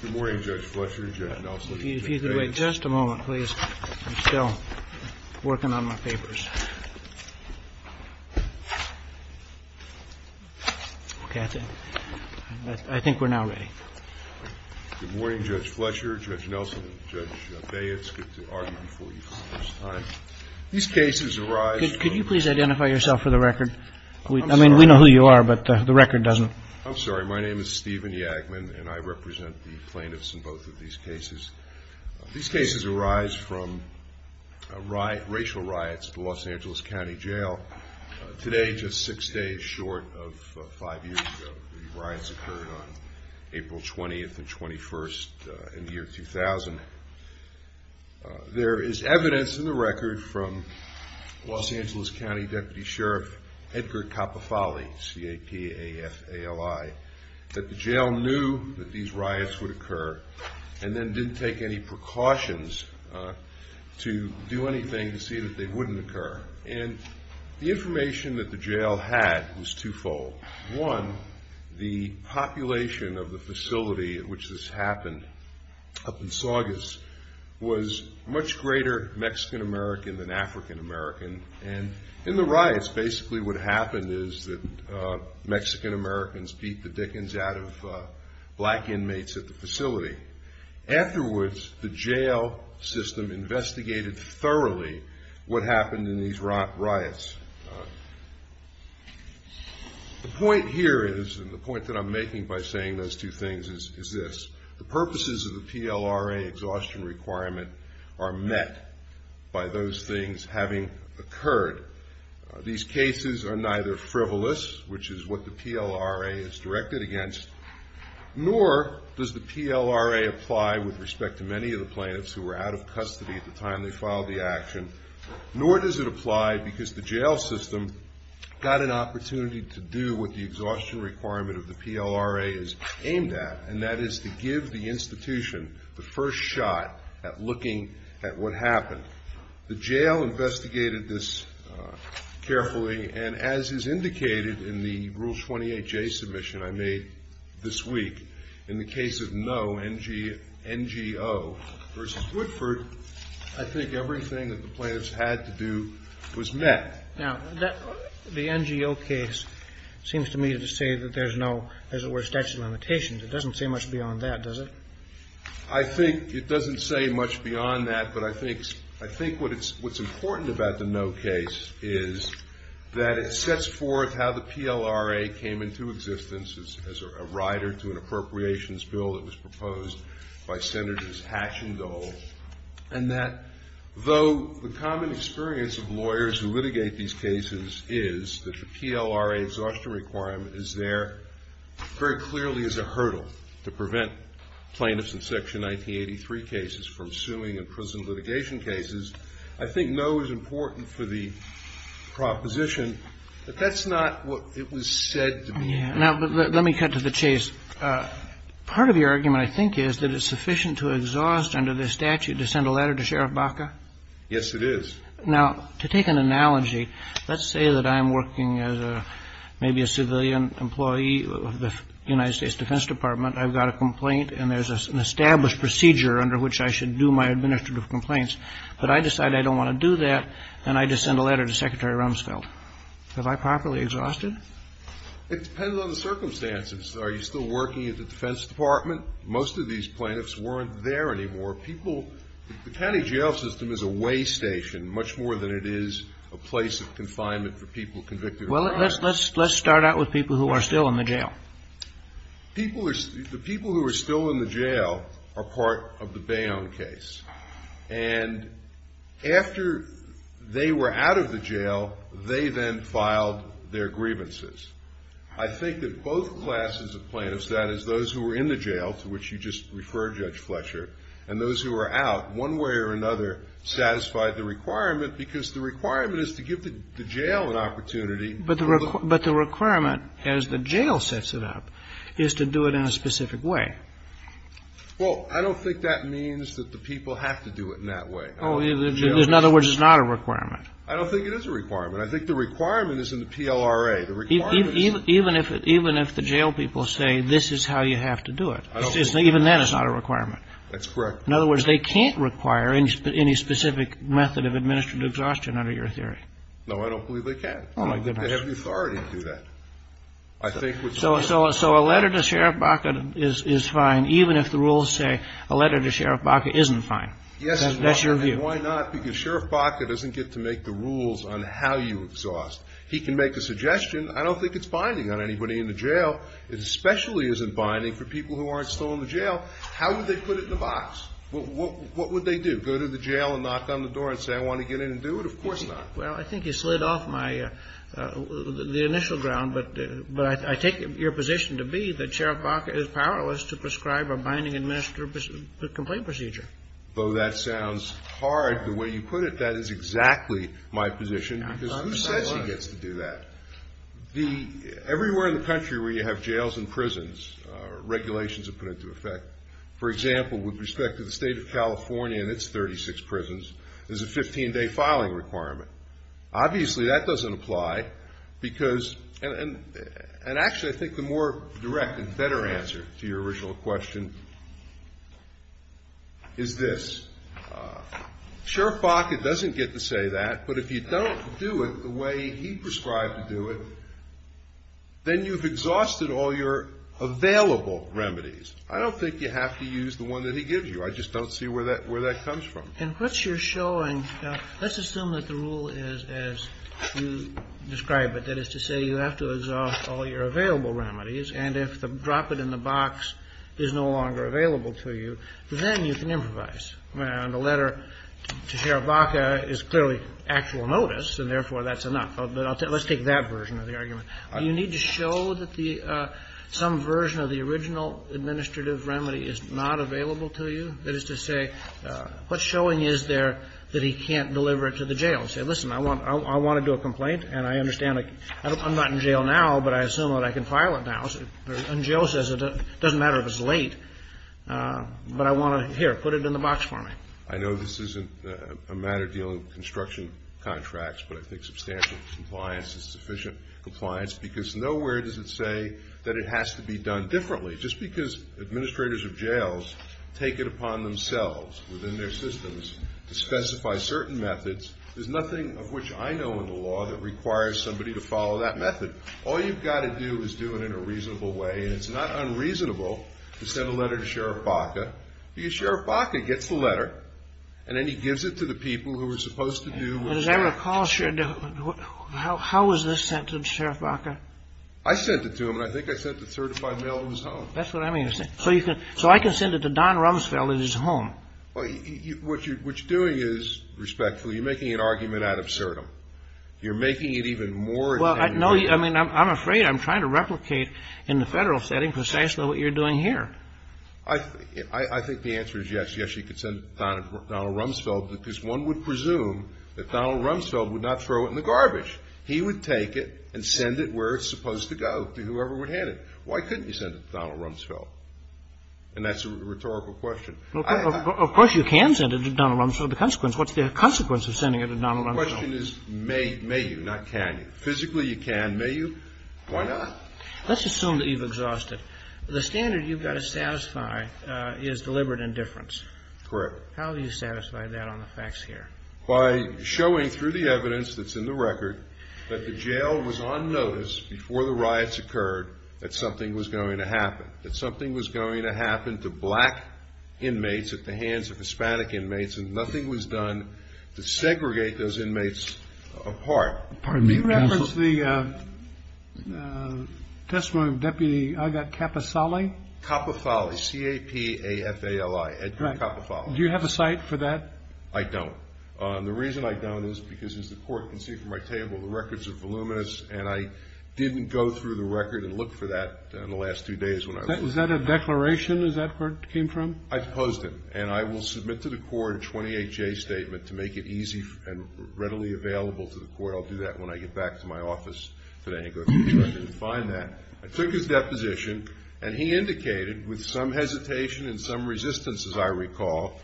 Good morning, Judge Fletcher, Judge Nelson, and Judge Bates. Good morning, Judge Fletcher, Judge Nelson, and Judge Bates. Good to argue before you for the first time. These cases arise from... Could you please identify yourself for the record? I mean, we know who you are, but the record doesn't... I'm sorry, my name is Stephen Yagman, and I represent the plaintiffs in both of these cases. These cases arise from racial riots at the Los Angeles County Jail. Today, just six days short of five years ago, the riots occurred on April 20th and 21st in the year 2000. There is evidence in the record from Los Angeles County Deputy Sheriff Edgar Capofali, C-A-P-A-F-A-L-I, that the jail knew that these riots would occur and then didn't take any precautions to do anything to see that they wouldn't occur. And the information that the jail had was twofold. One, the population of the facility in which this happened up in Saugus was much greater Mexican-American than African-American, and in the riots, basically what happened is that Mexican-Americans beat the dickens out of black inmates at the facility. Afterwards, the jail system investigated thoroughly what happened in these riots. The point here is, and the point that I'm making by saying those two things is this. The purposes of the PLRA exhaustion requirement are met by those things having occurred. These cases are neither frivolous, which is what the PLRA is directed against, nor does the PLRA apply with respect to many of the plaintiffs who were out of custody at the time they filed the action, nor does it apply because the jail system got an opportunity to do what the exhaustion requirement of the PLRA is aimed at, and that is to give the institution the first shot at looking at what happened. The jail investigated this carefully, and as is indicated in the Rule 28J submission I made this week, in the case of Ngo versus Woodford, I think everything that the plaintiffs had to do was met. Now, the Ngo case seems to me to say that there's no, as it were, statute of limitations. It doesn't say much beyond that, does it? I think it doesn't say much beyond that, but I think what's important about the Ngo case is that it sets forth how the PLRA came into existence as a rider to an appropriations bill that was proposed by Senators Hatch and Dole, and that though the common experience of lawyers who litigate these cases is that the PLRA exhaustion requirement is there very clearly as a hurdle to prevent plaintiffs in Section 1983 cases from suing in prison litigation cases, I think Ngo is important for the proposition, but that's not what it was said to be. Now, let me cut to the chase. Part of your argument, I think, is that it's sufficient to exhaust under this statute to send a letter to Sheriff Baca? Yes, it is. Now, to take an analogy, let's say that I'm working as maybe a civilian employee of the United States Defense Department. I've got a complaint, and there's an established procedure under which I should do my administrative complaints. But I decide I don't want to do that, and I just send a letter to Secretary Rumsfeld. Am I properly exhausted? It depends on the circumstances. Are you still working at the Defense Department? Most of these plaintiffs weren't there anymore. The county jail system is a way station, much more than it is a place of confinement for people convicted of crime. Well, let's start out with people who are still in the jail. The people who are still in the jail are part of the Bayonne case. And after they were out of the jail, they then filed their grievances. I think that both classes of plaintiffs, that is, those who were in the jail, to which you just referred, Judge Fletcher, and those who were out, one way or another, satisfied the requirement, because the requirement is to give the jail an opportunity. But the requirement, as the jail sets it up, is to do it in a specific way. Well, I don't think that means that the people have to do it in that way. In other words, it's not a requirement. I don't think it is a requirement. I think the requirement is in the PLRA. Even if the jail people say this is how you have to do it, even then it's not a requirement. That's correct. In other words, they can't require any specific method of administrative exhaustion under your theory. No, I don't believe they can. Oh, my goodness. I don't think they have the authority to do that. So a letter to Sheriff Baca is fine, even if the rules say a letter to Sheriff Baca isn't fine. Yes, it's not. That's your view. And why not? Because Sheriff Baca doesn't get to make the rules on how you exhaust. He can make a suggestion. I don't think it's binding on anybody in the jail. It especially isn't binding for people who aren't still in the jail. How would they put it in the box? What would they do? Go to the jail and knock on the door and say, I want to get in and do it? Of course not. Well, I think you slid off the initial ground. But I take your position to be that Sheriff Baca is powerless to prescribe a binding administrative complaint procedure. Though that sounds hard, the way you put it, that is exactly my position because who says he gets to do that? Everywhere in the country where you have jails and prisons, regulations are put into effect. For example, with respect to the State of California and its 36 prisons, there's a 15-day filing requirement. Obviously, that doesn't apply because – and actually, I think the more direct and better answer to your original question is this. Sheriff Baca doesn't get to say that, but if you don't do it the way he prescribed to do it, then you've exhausted all your available remedies. I don't think you have to use the one that he gives you. I just don't see where that comes from. And what you're showing – let's assume that the rule is as you describe it, that is to say you have to exhaust all your available remedies, and if the drop-it-in-the-box is no longer available to you, then you can improvise. The letter to Sheriff Baca is clearly actual notice, and therefore that's enough. But let's take that version of the argument. Do you need to show that some version of the original administrative remedy is not available to you? That is to say, what showing is there that he can't deliver it to the jail? Say, listen, I want to do a complaint, and I understand I'm not in jail now, but I assume that I can file it now. And jail says it doesn't matter if it's late, but I want to – here, put it in the box for me. I know this isn't a matter dealing with construction contracts, but I think substantial compliance is sufficient compliance because nowhere does it say that it has to be done differently. Just because administrators of jails take it upon themselves within their systems to specify certain methods, there's nothing of which I know in the law that requires somebody to follow that method. All you've got to do is do it in a reasonable way, and it's not unreasonable to send a letter to Sheriff Baca because Sheriff Baca gets the letter, and then he gives it to the people who are supposed to do – As I recall, how was this sent to Sheriff Baca? I sent it to him, and I think I sent it certified mail to his home. That's what I mean. So you can – so I can send it to Don Rumsfeld at his home. Well, what you're doing is, respectfully, you're making an argument out of certum. You're making it even more – Well, no, I mean, I'm afraid I'm trying to replicate in the Federal setting precisely what you're doing here. I think the answer is yes. Yes, you could send it to Donald Rumsfeld because one would presume that Donald Rumsfeld would not throw it in the garbage. He would take it and send it where it's supposed to go to whoever would hand it. Why couldn't you send it to Donald Rumsfeld? And that's a rhetorical question. Of course you can send it to Donald Rumsfeld. What's the consequence of sending it to Donald Rumsfeld? The question is may you, not can you. Physically, you can. May you? Why not? Let's assume that you've exhausted. The standard you've got to satisfy is deliberate indifference. Correct. How do you satisfy that on the facts here? By showing through the evidence that's in the record that the jail was on notice before the riots occurred that something was going to happen, that something was going to happen to black inmates at the hands of Hispanic inmates, and nothing was done to segregate those inmates apart. Pardon me, counsel. Can you reference the testimony of Deputy Agat Kapafali? Kapafali, C-A-P-A-F-A-L-I, Edgar Kapafali. Do you have a site for that? I don't. The reason I don't is because, as the Court can see from my table, the records are voluminous, and I didn't go through the record and look for that in the last two days when I was there. Is that a declaration? Is that where it came from? I posed it. And I will submit to the Court a 28-J statement to make it easy and readily available to the Court. I'll do that when I get back to my office today and go through the record and find that. I took his deposition, and he indicated, with some hesitation and some resistance, as I recall,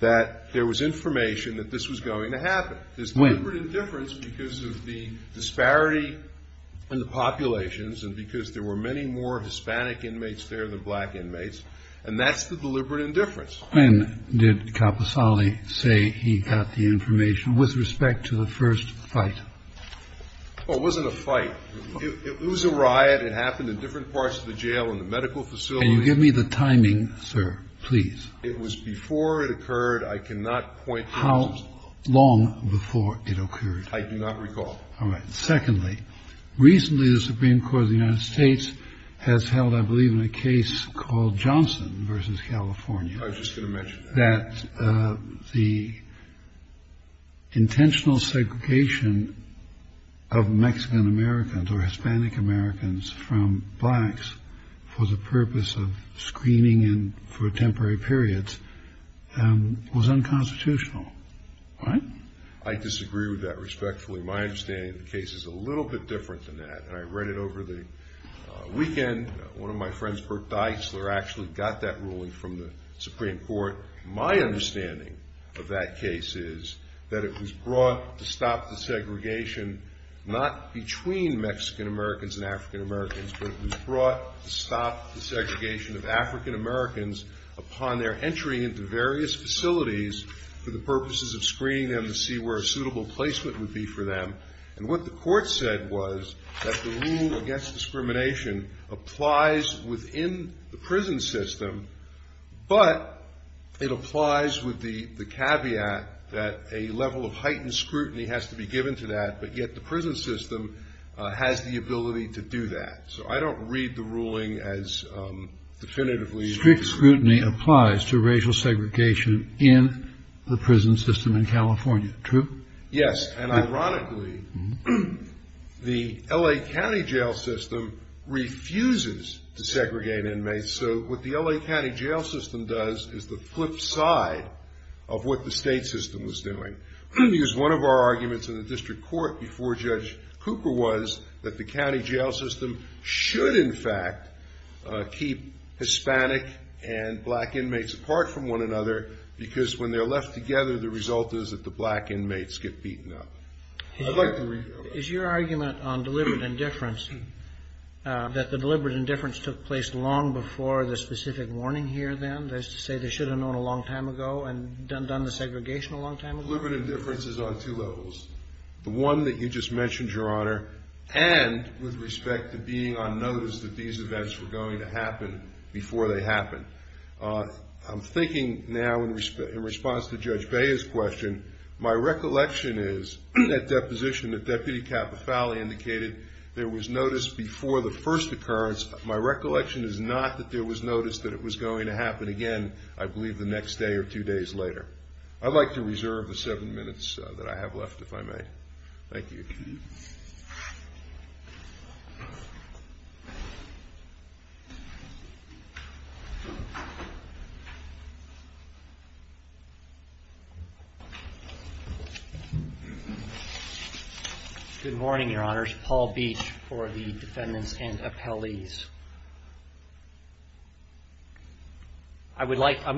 that there was information that this was going to happen. There's deliberate indifference because of the disparity in the populations and because there were many more Hispanic inmates there than black inmates, and that's the deliberate indifference. When did Kapafali say he got the information with respect to the first fight? Well, it wasn't a fight. It was a riot. It happened in different parts of the jail and the medical facility. Can you give me the timing, sir, please? It was before it occurred. I cannot point to the system. How long before it occurred? I do not recall. All right. Secondly, recently the Supreme Court of the United States has held, I believe, in a case called Johnson v. California. I was just going to mention that. The intentional segregation of Mexican-Americans or Hispanic-Americans from blacks for the purpose of screening and for temporary periods was unconstitutional. All right? I disagree with that respectfully. My understanding of the case is a little bit different than that, and I read it over the weekend. One of my friends, Burt Deitzler, actually got that ruling from the Supreme Court. My understanding of that case is that it was brought to stop the segregation, not between Mexican-Americans and African-Americans, but it was brought to stop the segregation of African-Americans upon their entry into various facilities for the purposes of screening them to see where a suitable placement would be for them. And what the court said was that the rule against discrimination applies within the prison system, but it applies with the caveat that a level of heightened scrutiny has to be given to that, but yet the prison system has the ability to do that. So I don't read the ruling as definitively. Strict scrutiny applies to racial segregation in the prison system in California, true? Yes, and ironically, the L.A. County jail system refuses to segregate inmates, so what the L.A. County jail system does is the flip side of what the state system is doing. Because one of our arguments in the district court before Judge Cooper was that the county jail system should in fact keep Hispanic and black inmates apart from one another, because when they're left together, the result is that the black inmates get beaten up. Is your argument on deliberate indifference that the deliberate indifference took place long before the specific warning here then? That is to say they should have known a long time ago and done the segregation a long time ago? Deliberate indifference is on two levels, the one that you just mentioned, Your Honor, and with respect to being on notice that these events were going to happen before they happened. I'm thinking now in response to Judge Bea's question, my recollection is at deposition that Deputy Capafalli indicated there was notice before the first occurrence. My recollection is not that there was notice that it was going to happen again, I believe, the next day or two days later. I'd like to reserve the seven minutes that I have left, if I may. Thank you. Good morning, Your Honors. Paul Beach for the defendants and appellees. I'm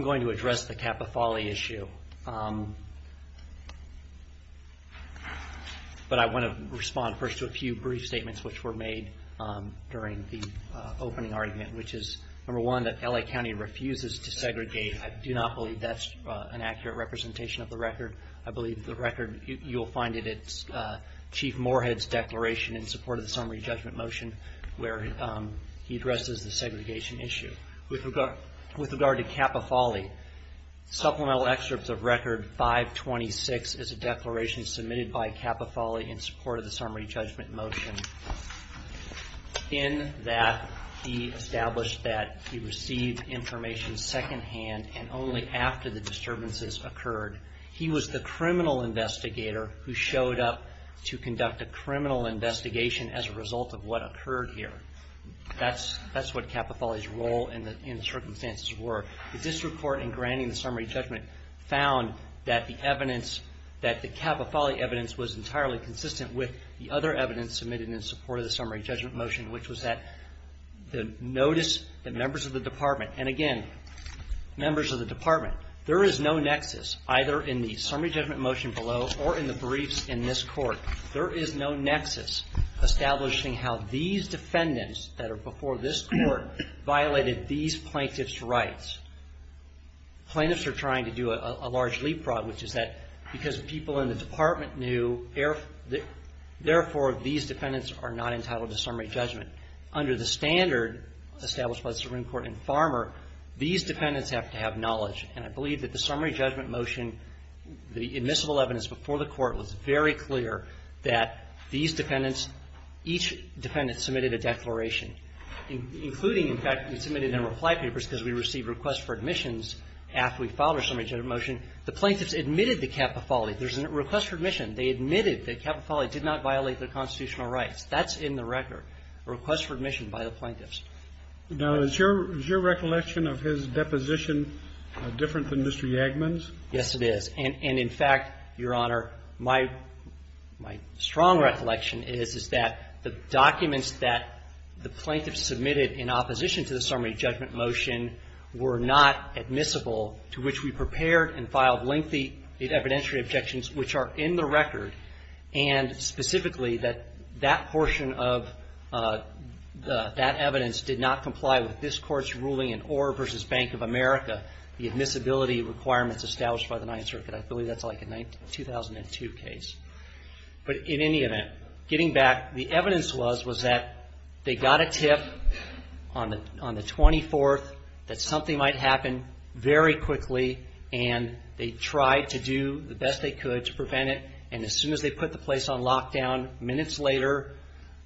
going to address the Capafalli issue. But I want to respond first to a few brief statements which were made during the opening argument, which is, number one, that L.A. County refuses to segregate. I do not believe that's an accurate representation of the record. I believe the record, you'll find it at Chief Moorhead's declaration in support of the summary judgment motion, where he addresses the segregation issue. With regard to Capafalli, supplemental excerpts of record 526 is a declaration submitted by Capafalli in support of the summary judgment motion, in that he established that he received information secondhand and only after the disturbances occurred. He was the criminal investigator who showed up to conduct a criminal investigation as a result of what occurred here. That's what Capafalli's role in the circumstances were. This report in granting the summary judgment found that the Capafalli evidence was entirely consistent with the other evidence submitted in support of the summary judgment motion, which was that the notice that members of the department, and again, members of the department, there is no nexus either in the summary judgment motion below or in the briefs in this Court. There is no nexus establishing how these defendants that are before this Court violated these plaintiffs' rights. Plaintiffs are trying to do a large leapfrog, which is that because people in the department knew, therefore, these defendants are not entitled to summary judgment. Under the standard established by the Supreme Court in Farmer, these defendants have to have knowledge, and I believe that the summary judgment motion, the admissible evidence before the Court was very clear that these defendants, each defendant submitted a declaration, including, in fact, we submitted in reply papers because we received requests for admissions after we filed our summary judgment motion. The plaintiffs admitted to Capafalli. There's a request for admission. They admitted that Capafalli did not violate their constitutional rights. That's in the record, a request for admission by the plaintiffs. Now, is your recollection of his deposition different than Mr. Yagman's? Yes, it is. And, in fact, Your Honor, my strong recollection is, is that the documents that the plaintiffs submitted in opposition to the summary judgment motion were not admissible, to which we prepared and filed lengthy evidentiary objections, which are in the record, and specifically that that portion of that evidence did not comply with this Court's ruling in Orr v. Bank of America, the admissibility requirements established by the Ninth Circuit. I believe that's like a 2002 case. But, in any event, getting back, the evidence was that they got a tip on the 24th that something might happen very quickly, and they tried to do the best they could to prevent it and, as soon as they put the place on lockdown, minutes later,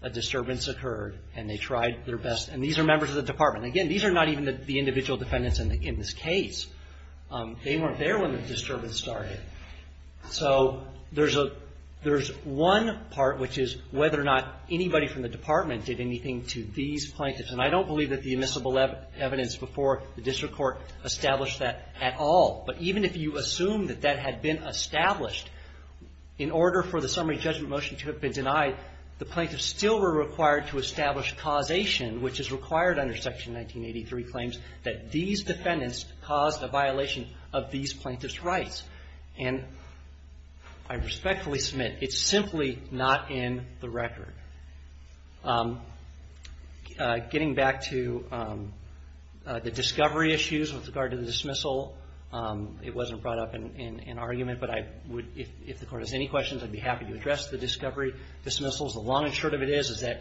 a disturbance occurred and they tried their best. And these are members of the Department. Again, these are not even the individual defendants in this case. They weren't there when the disturbance started. So, there's one part, which is whether or not anybody from the Department did anything to these plaintiffs. And I don't believe that the admissible evidence before the District Court established that at all. But even if you assume that that had been established, in order for the summary judgment motion to have been denied, the plaintiffs still were required to establish causation, which is required under Section 1983 claims, that these defendants caused a violation of these plaintiffs' rights. And I respectfully submit, it's simply not in the record. Getting back to the discovery issues with regard to the dismissal, it wasn't brought up in argument, but I would, if the Court has any questions, I'd be happy to address the discovery dismissals. The long and short of it is, is that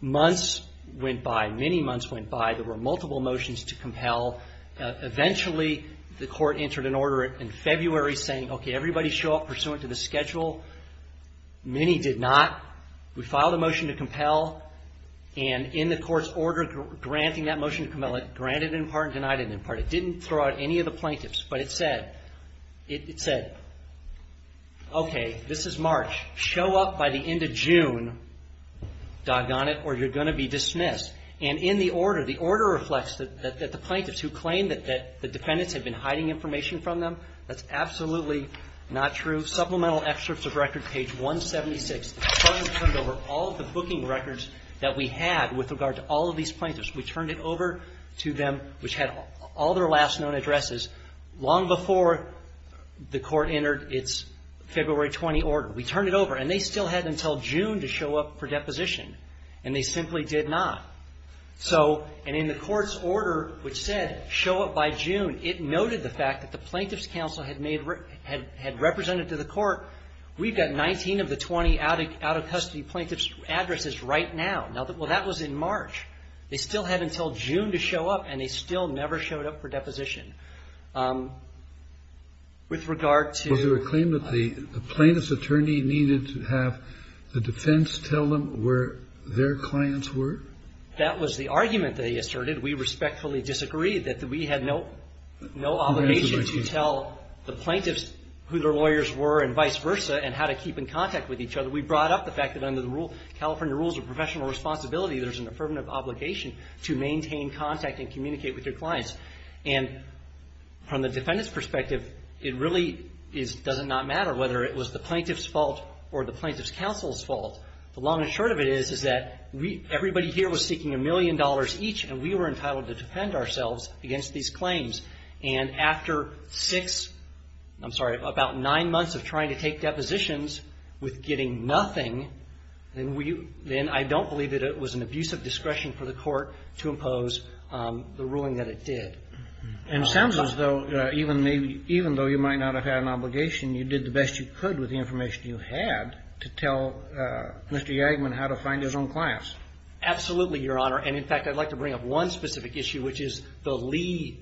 months went by, many months went by. There were multiple motions to compel. Eventually, the Court entered an order in February saying, okay, everybody show up pursuant to the schedule. Many did not. We filed a motion to compel. And in the Court's order granting that motion to compel, it granted it in part and denied it in part. It didn't throw out any of the plaintiffs. But it said, it said, okay, this is March. Show up by the end of June, doggone it, or you're going to be dismissed. And in the order, the order reflects that the plaintiffs who claimed that the defendants had been hiding information from them, that's absolutely not true. Supplemental excerpts of record, page 176. We turned over all the booking records that we had with regard to all of these plaintiffs. We turned it over to them, which had all their last known addresses, long before the Court entered its February 20 order. We turned it over. And they still had until June to show up for deposition. And they simply did not. So, and in the Court's order, which said, show up by June, it noted the fact that the Plaintiffs' Counsel had made, had represented to the Court, we've got 19 of the 20 out-of-custody plaintiffs' addresses right now. Now, well, that was in March. They still had until June to show up, and they still never showed up for deposition. With regard to the plaintiffs' attorney needed to have the defense tell them where their clients were? That was the argument they asserted. We respectfully disagreed that we had no obligation to tell the plaintiffs who their lawyers were and vice versa and how to keep in contact with each other. We brought up the fact that under the California Rules of Professional Responsibility, there's an affirmative obligation to maintain contact and communicate with your clients. And from the defendant's perspective, it really does not matter whether it was the plaintiff's fault or the plaintiff's counsel's fault. The long and short of it is that everybody here was seeking a million dollars each, and we were entitled to defend ourselves against these claims. And after six, I'm sorry, about nine months of trying to take depositions with getting nothing, then I don't believe that it was an abuse of discretion for the Court to impose the ruling that it did. And it sounds as though even though you might not have had an obligation, you did the best you could with the information you had to tell Mr. Yagman how to find his own clients. Absolutely, Your Honor. And, in fact, I'd like to bring up one specific issue, which is the Lee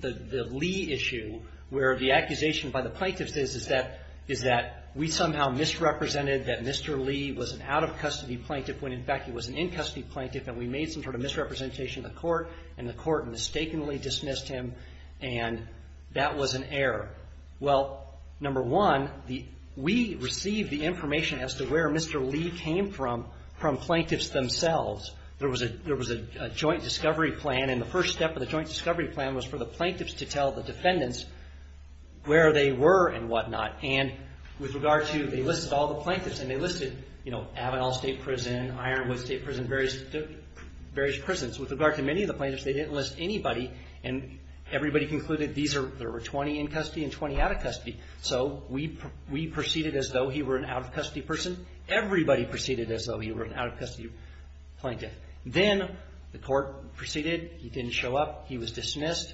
issue, where the accusation by the plaintiffs is that we somehow misrepresented that Mr. Lee was an out-of-custody plaintiff when, in fact, he was an in-custody plaintiff, and we made some sort of misrepresentation in the Court, and the Court mistakenly dismissed him, and that was an error. Well, number one, we received the information as to where Mr. Lee came from from plaintiffs themselves. There was a joint discovery plan, and the first step of the joint discovery plan was for the plaintiffs to tell the defendants where they were and whatnot, and with regard to, they listed all the plaintiffs, and they listed, you know, Avenal State Prison, Ironwood State Prison, various prisons. With regard to many of the plaintiffs, they didn't list anybody, and everybody concluded these are, there were 20 in custody and 20 out of custody. So we proceeded as though he were an out-of-custody person. Everybody proceeded as though he were an out-of-custody plaintiff. Then the Court proceeded. He didn't show up. He was dismissed.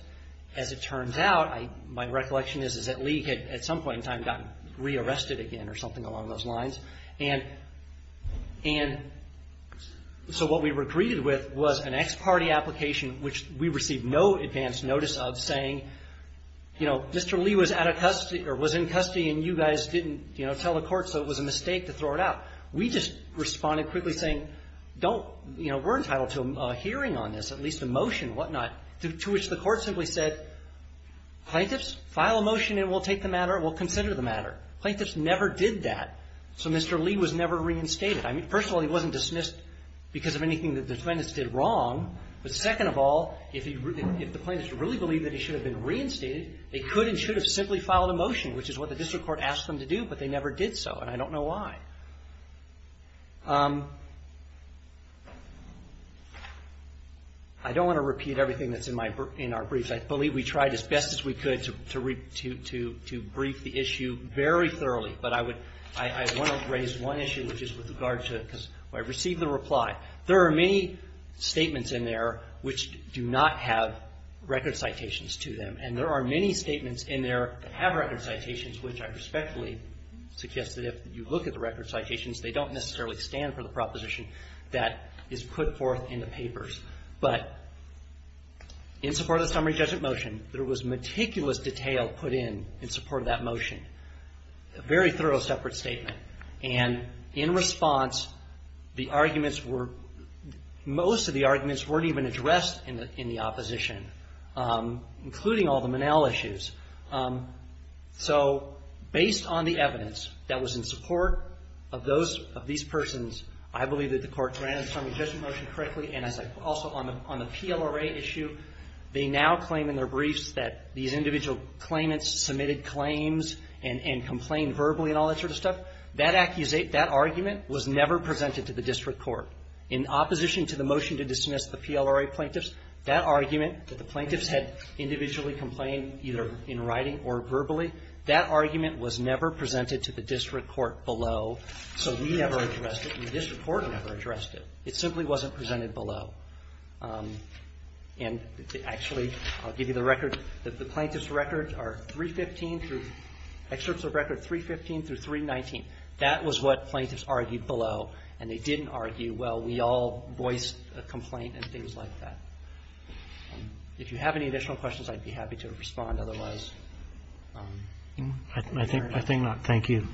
As it turns out, my recollection is that Lee had, at some point in time, gotten re-arrested again or something along those lines, and so what we were greeted with was an ex parte application, which we received no advance notice of, saying, you know, Mr. Lee was out of custody or was in custody and you guys didn't, you know, tell the court, so it was a mistake to throw it out. We just responded quickly, saying, don't, you know, we're entitled to a hearing on this, at least a motion and whatnot, to which the Court simply said, plaintiffs, file a motion and we'll take the matter, we'll consider the matter. Plaintiffs never did that. So Mr. Lee was never reinstated. I mean, first of all, he wasn't dismissed because of anything that the defendants did wrong, but second of all, if the plaintiffs really believed that he should have been reinstated, they could and should have simply filed a motion, which is what the district court asked them to do, but they never did so, and I don't know why. I don't want to repeat everything that's in our briefs. I believe we tried as best as we could to brief the issue very thoroughly, but I want to raise one issue, which is with regard to, because I received the reply. There are many statements in there which do not have record citations to them, and there are many statements in there that have record citations, which I respectfully suggest that if you look at the record citations, they don't necessarily stand for the proposition that is put forth in the papers, but in support of the summary judgment motion, there was meticulous detail put in in support of that motion, a very thorough separate statement, and in response, the arguments were, most of the arguments weren't even addressed in the opposition, including all the Monell issues, so based on the evidence that was in support of those, of these persons, I believe that the courts ran the summary judgment motion correctly, and also on the PLRA issue, they now claim in their briefs that these individual claimants submitted claims and complained verbally and all that sort of stuff. That argument was never presented to the district court. In opposition to the motion to dismiss the PLRA plaintiffs, that argument that the plaintiffs had individually complained either in writing or verbally, that argument was never presented to the district court below, so we never addressed it and the district court never addressed it. It simply wasn't presented below, and actually, I'll give you the record. The plaintiffs' records are 315 through, excerpts of record 315 through 319. That was what plaintiffs argued below, and they didn't argue, well, we all voiced a complaint and things like that. If you have any additional questions, I'd be happy to respond. Otherwise, I'm sorry. Roberts. I think not. Thank you.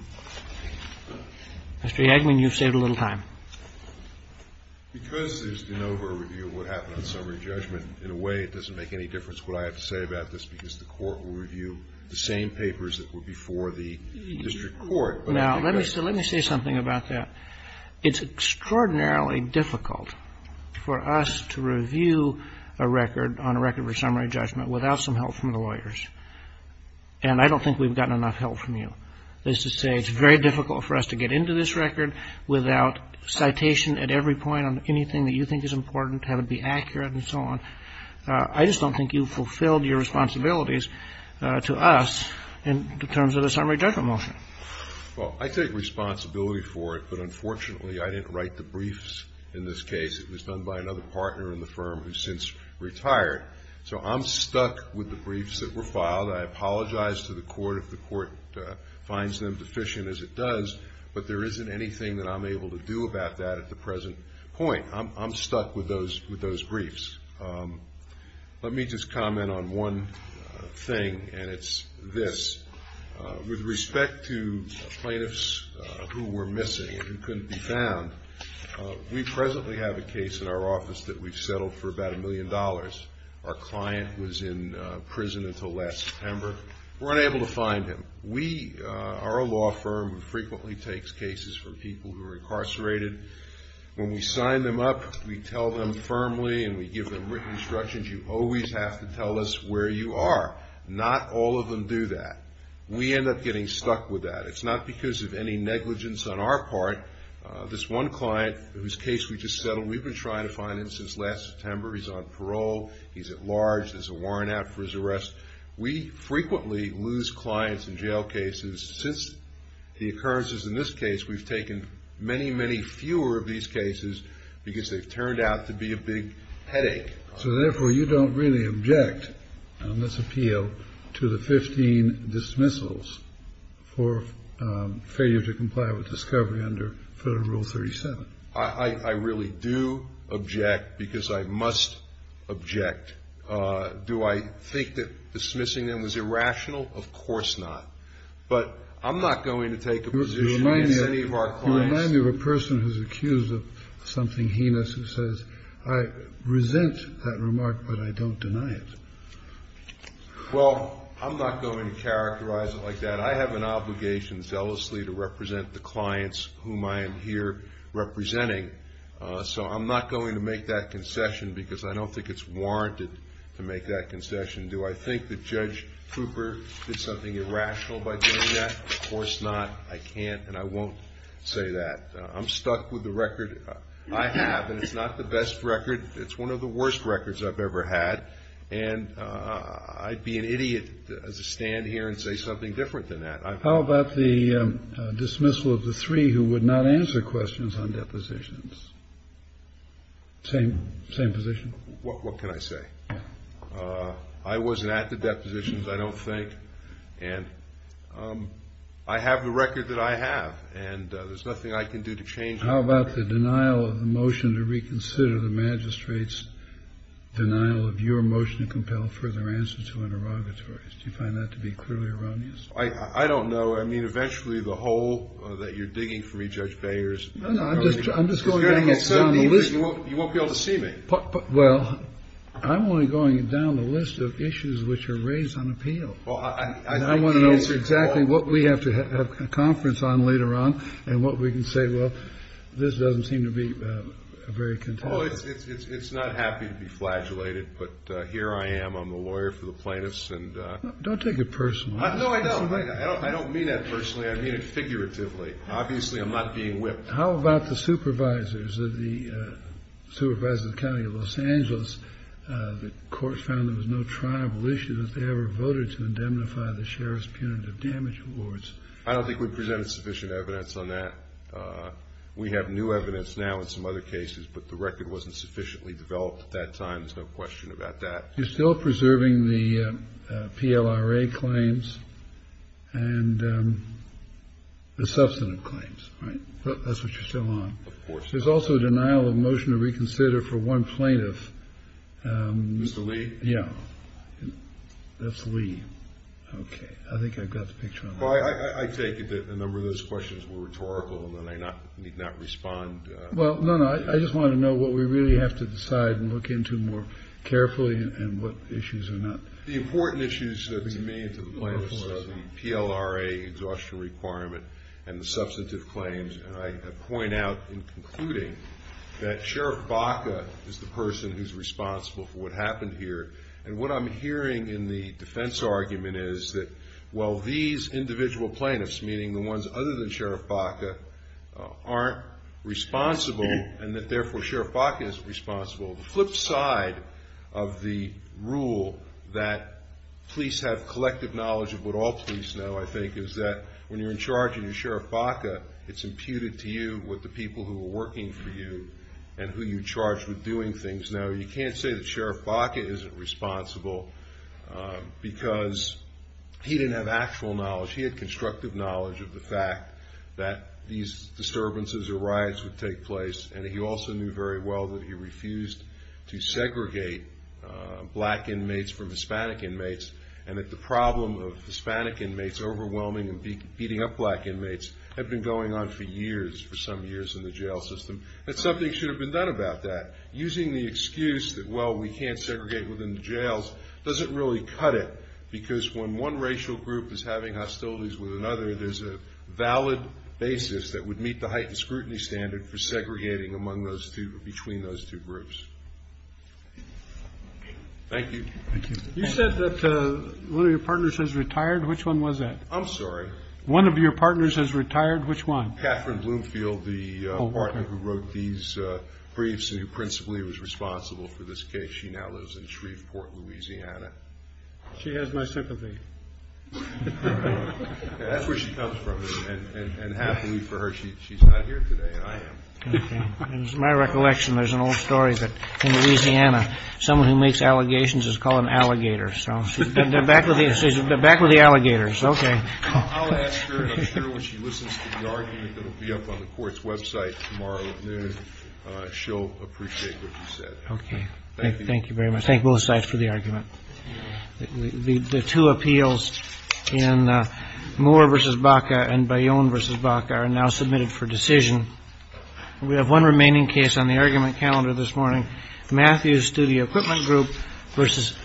Mr. Yagman, you've saved a little time. Yagman. Because there's de novo review of what happened on summary judgment, in a way it doesn't make any difference what I have to say about this, because the court will review the same papers that were before the district court. Now, let me say something about that. It's extraordinarily difficult for us to review a record on a record for summary judgment without some help from the lawyers, and I don't think we've gotten enough help from you. That is to say, it's very difficult for us to get into this record without citation at every point on anything that you think is important, have it be accurate and so on. I just don't think you fulfilled your responsibilities to us in terms of the summary judgment motion. Well, I take responsibility for it, but unfortunately I didn't write the briefs in this case. It was done by another partner in the firm who's since retired, so I'm stuck with the briefs that were filed. I apologize to the court if the court finds them deficient as it does, but there isn't anything that I'm able to do about that at the present point. I'm stuck with those briefs. Let me just comment on one thing, and it's this. With respect to plaintiffs who were missing and who couldn't be found, we presently have a case in our office that we've settled for about a million dollars. Our client was in prison until last September. We're unable to find him. Our law firm frequently takes cases from people who are incarcerated. When we sign them up, we tell them firmly and we give them written instructions, you always have to tell us where you are. Not all of them do that. We end up getting stuck with that. It's not because of any negligence on our part. This one client whose case we just settled, we've been trying to find him since last September. He's on parole. He's at large. There's a warrant out for his arrest. We frequently lose clients in jail cases. Since the occurrences in this case, we've taken many, many fewer of these cases because they've turned out to be a big headache. So, therefore, you don't really object on this appeal to the 15 dismissals for failure to comply with discovery under Federal Rule 37? I really do object because I must object. Do I think that dismissing them was irrational? Of course not. But I'm not going to take a position as any of our clients. When I hear a person who's accused of something heinous who says, I resent that remark, but I don't deny it. Well, I'm not going to characterize it like that. I have an obligation, zealously, to represent the clients whom I am here representing. So I'm not going to make that concession because I don't think it's warranted to make that concession. Do I think that Judge Cooper did something irrational by doing that? Of course not. I can't and I won't say that. I'm stuck with the record. I have, and it's not the best record. It's one of the worst records I've ever had. And I'd be an idiot to stand here and say something different than that. How about the dismissal of the three who would not answer questions on depositions? Same position? What can I say? I wasn't at the depositions, I don't think. And I have the record that I have, and there's nothing I can do to change it. How about the denial of the motion to reconsider the magistrate's denial of your motion to compel further answer to interrogatories? Do you find that to be clearly erroneous? I don't know. I mean, eventually the hole that you're digging for me, Judge Beyers. No, no, I'm just going down the list. You won't be able to see me. Well, I'm only going down the list of issues which are raised on appeal. And I want to know exactly what we have to have a conference on later on and what we can say. Well, this doesn't seem to be a very contentious issue. It's not happy to be flagellated, but here I am. I'm the lawyer for the plaintiffs. Don't take it personally. No, I don't. I don't mean that personally. I mean it figuratively. Obviously, I'm not being whipped. How about the supervisors of the County of Los Angeles? The court found there was no tribal issue that they ever voted to indemnify the sheriff's punitive damage awards. I don't think we've presented sufficient evidence on that. We have new evidence now in some other cases, but the record wasn't sufficiently developed at that time. There's no question about that. You're still preserving the PLRA claims and the substantive claims, right? That's what you're still on. Of course. There's also a denial of motion to reconsider for one plaintiff. Mr. Lee? Yeah. That's Lee. Okay. I think I've got the picture. I take it that a number of those questions were rhetorical and that I need not respond. Well, no, no. I just wanted to know what we really have to decide and look into more carefully and what issues are not. The important issues that we made to the plaintiffs are the PLRA exhaustion requirement and the substantive claims. And I point out in concluding that Sheriff Baca is the person who's responsible for what happened here. And what I'm hearing in the defense argument is that while these individual plaintiffs, meaning the ones other than Sheriff Baca, aren't responsible and that therefore Sheriff Baca is responsible, the flip side of the rule that police have collective knowledge of what all police know, I think, is that when you're in charge and you're Sheriff Baca, it's imputed to you what the people who are working for you and who you charge with doing things. Now, you can't say that Sheriff Baca isn't responsible because he didn't have actual knowledge. He had constructive knowledge of the fact that these disturbances or riots would take place, and he also knew very well that he refused to segregate black inmates from Hispanic inmates and that the problem of Hispanic inmates overwhelming and beating up black inmates had been going on for years, for some years, in the jail system. That something should have been done about that. Using the excuse that, well, we can't segregate within the jails doesn't really cut it because when one racial group is having hostilities with another, there's a valid basis that would meet the heightened scrutiny standard for segregating between those two groups. Thank you. You said that one of your partners has retired. Which one was that? I'm sorry? One of your partners has retired. Which one? Katherine Bloomfield, the partner who wrote these briefs and who principally was responsible for this case. She now lives in Shreveport, Louisiana. She has my sympathy. That's where she comes from, and happily for her, she's not here today. I am. It's my recollection there's an old story that in Louisiana someone who makes allegations is called an alligator. So she's been back with the alligators. Okay. I'll ask her, and I'm sure when she listens to the argument that will be up on the court's website tomorrow at noon, she'll appreciate what you said. Okay. Thank you very much. Thank both sides for the argument. The two appeals in Moore v. Baca and Bayonne v. Baca are now submitted for decision. We have one remaining case on the argument calendar this morning, Matthews Studio Equipment Group v. Phillips.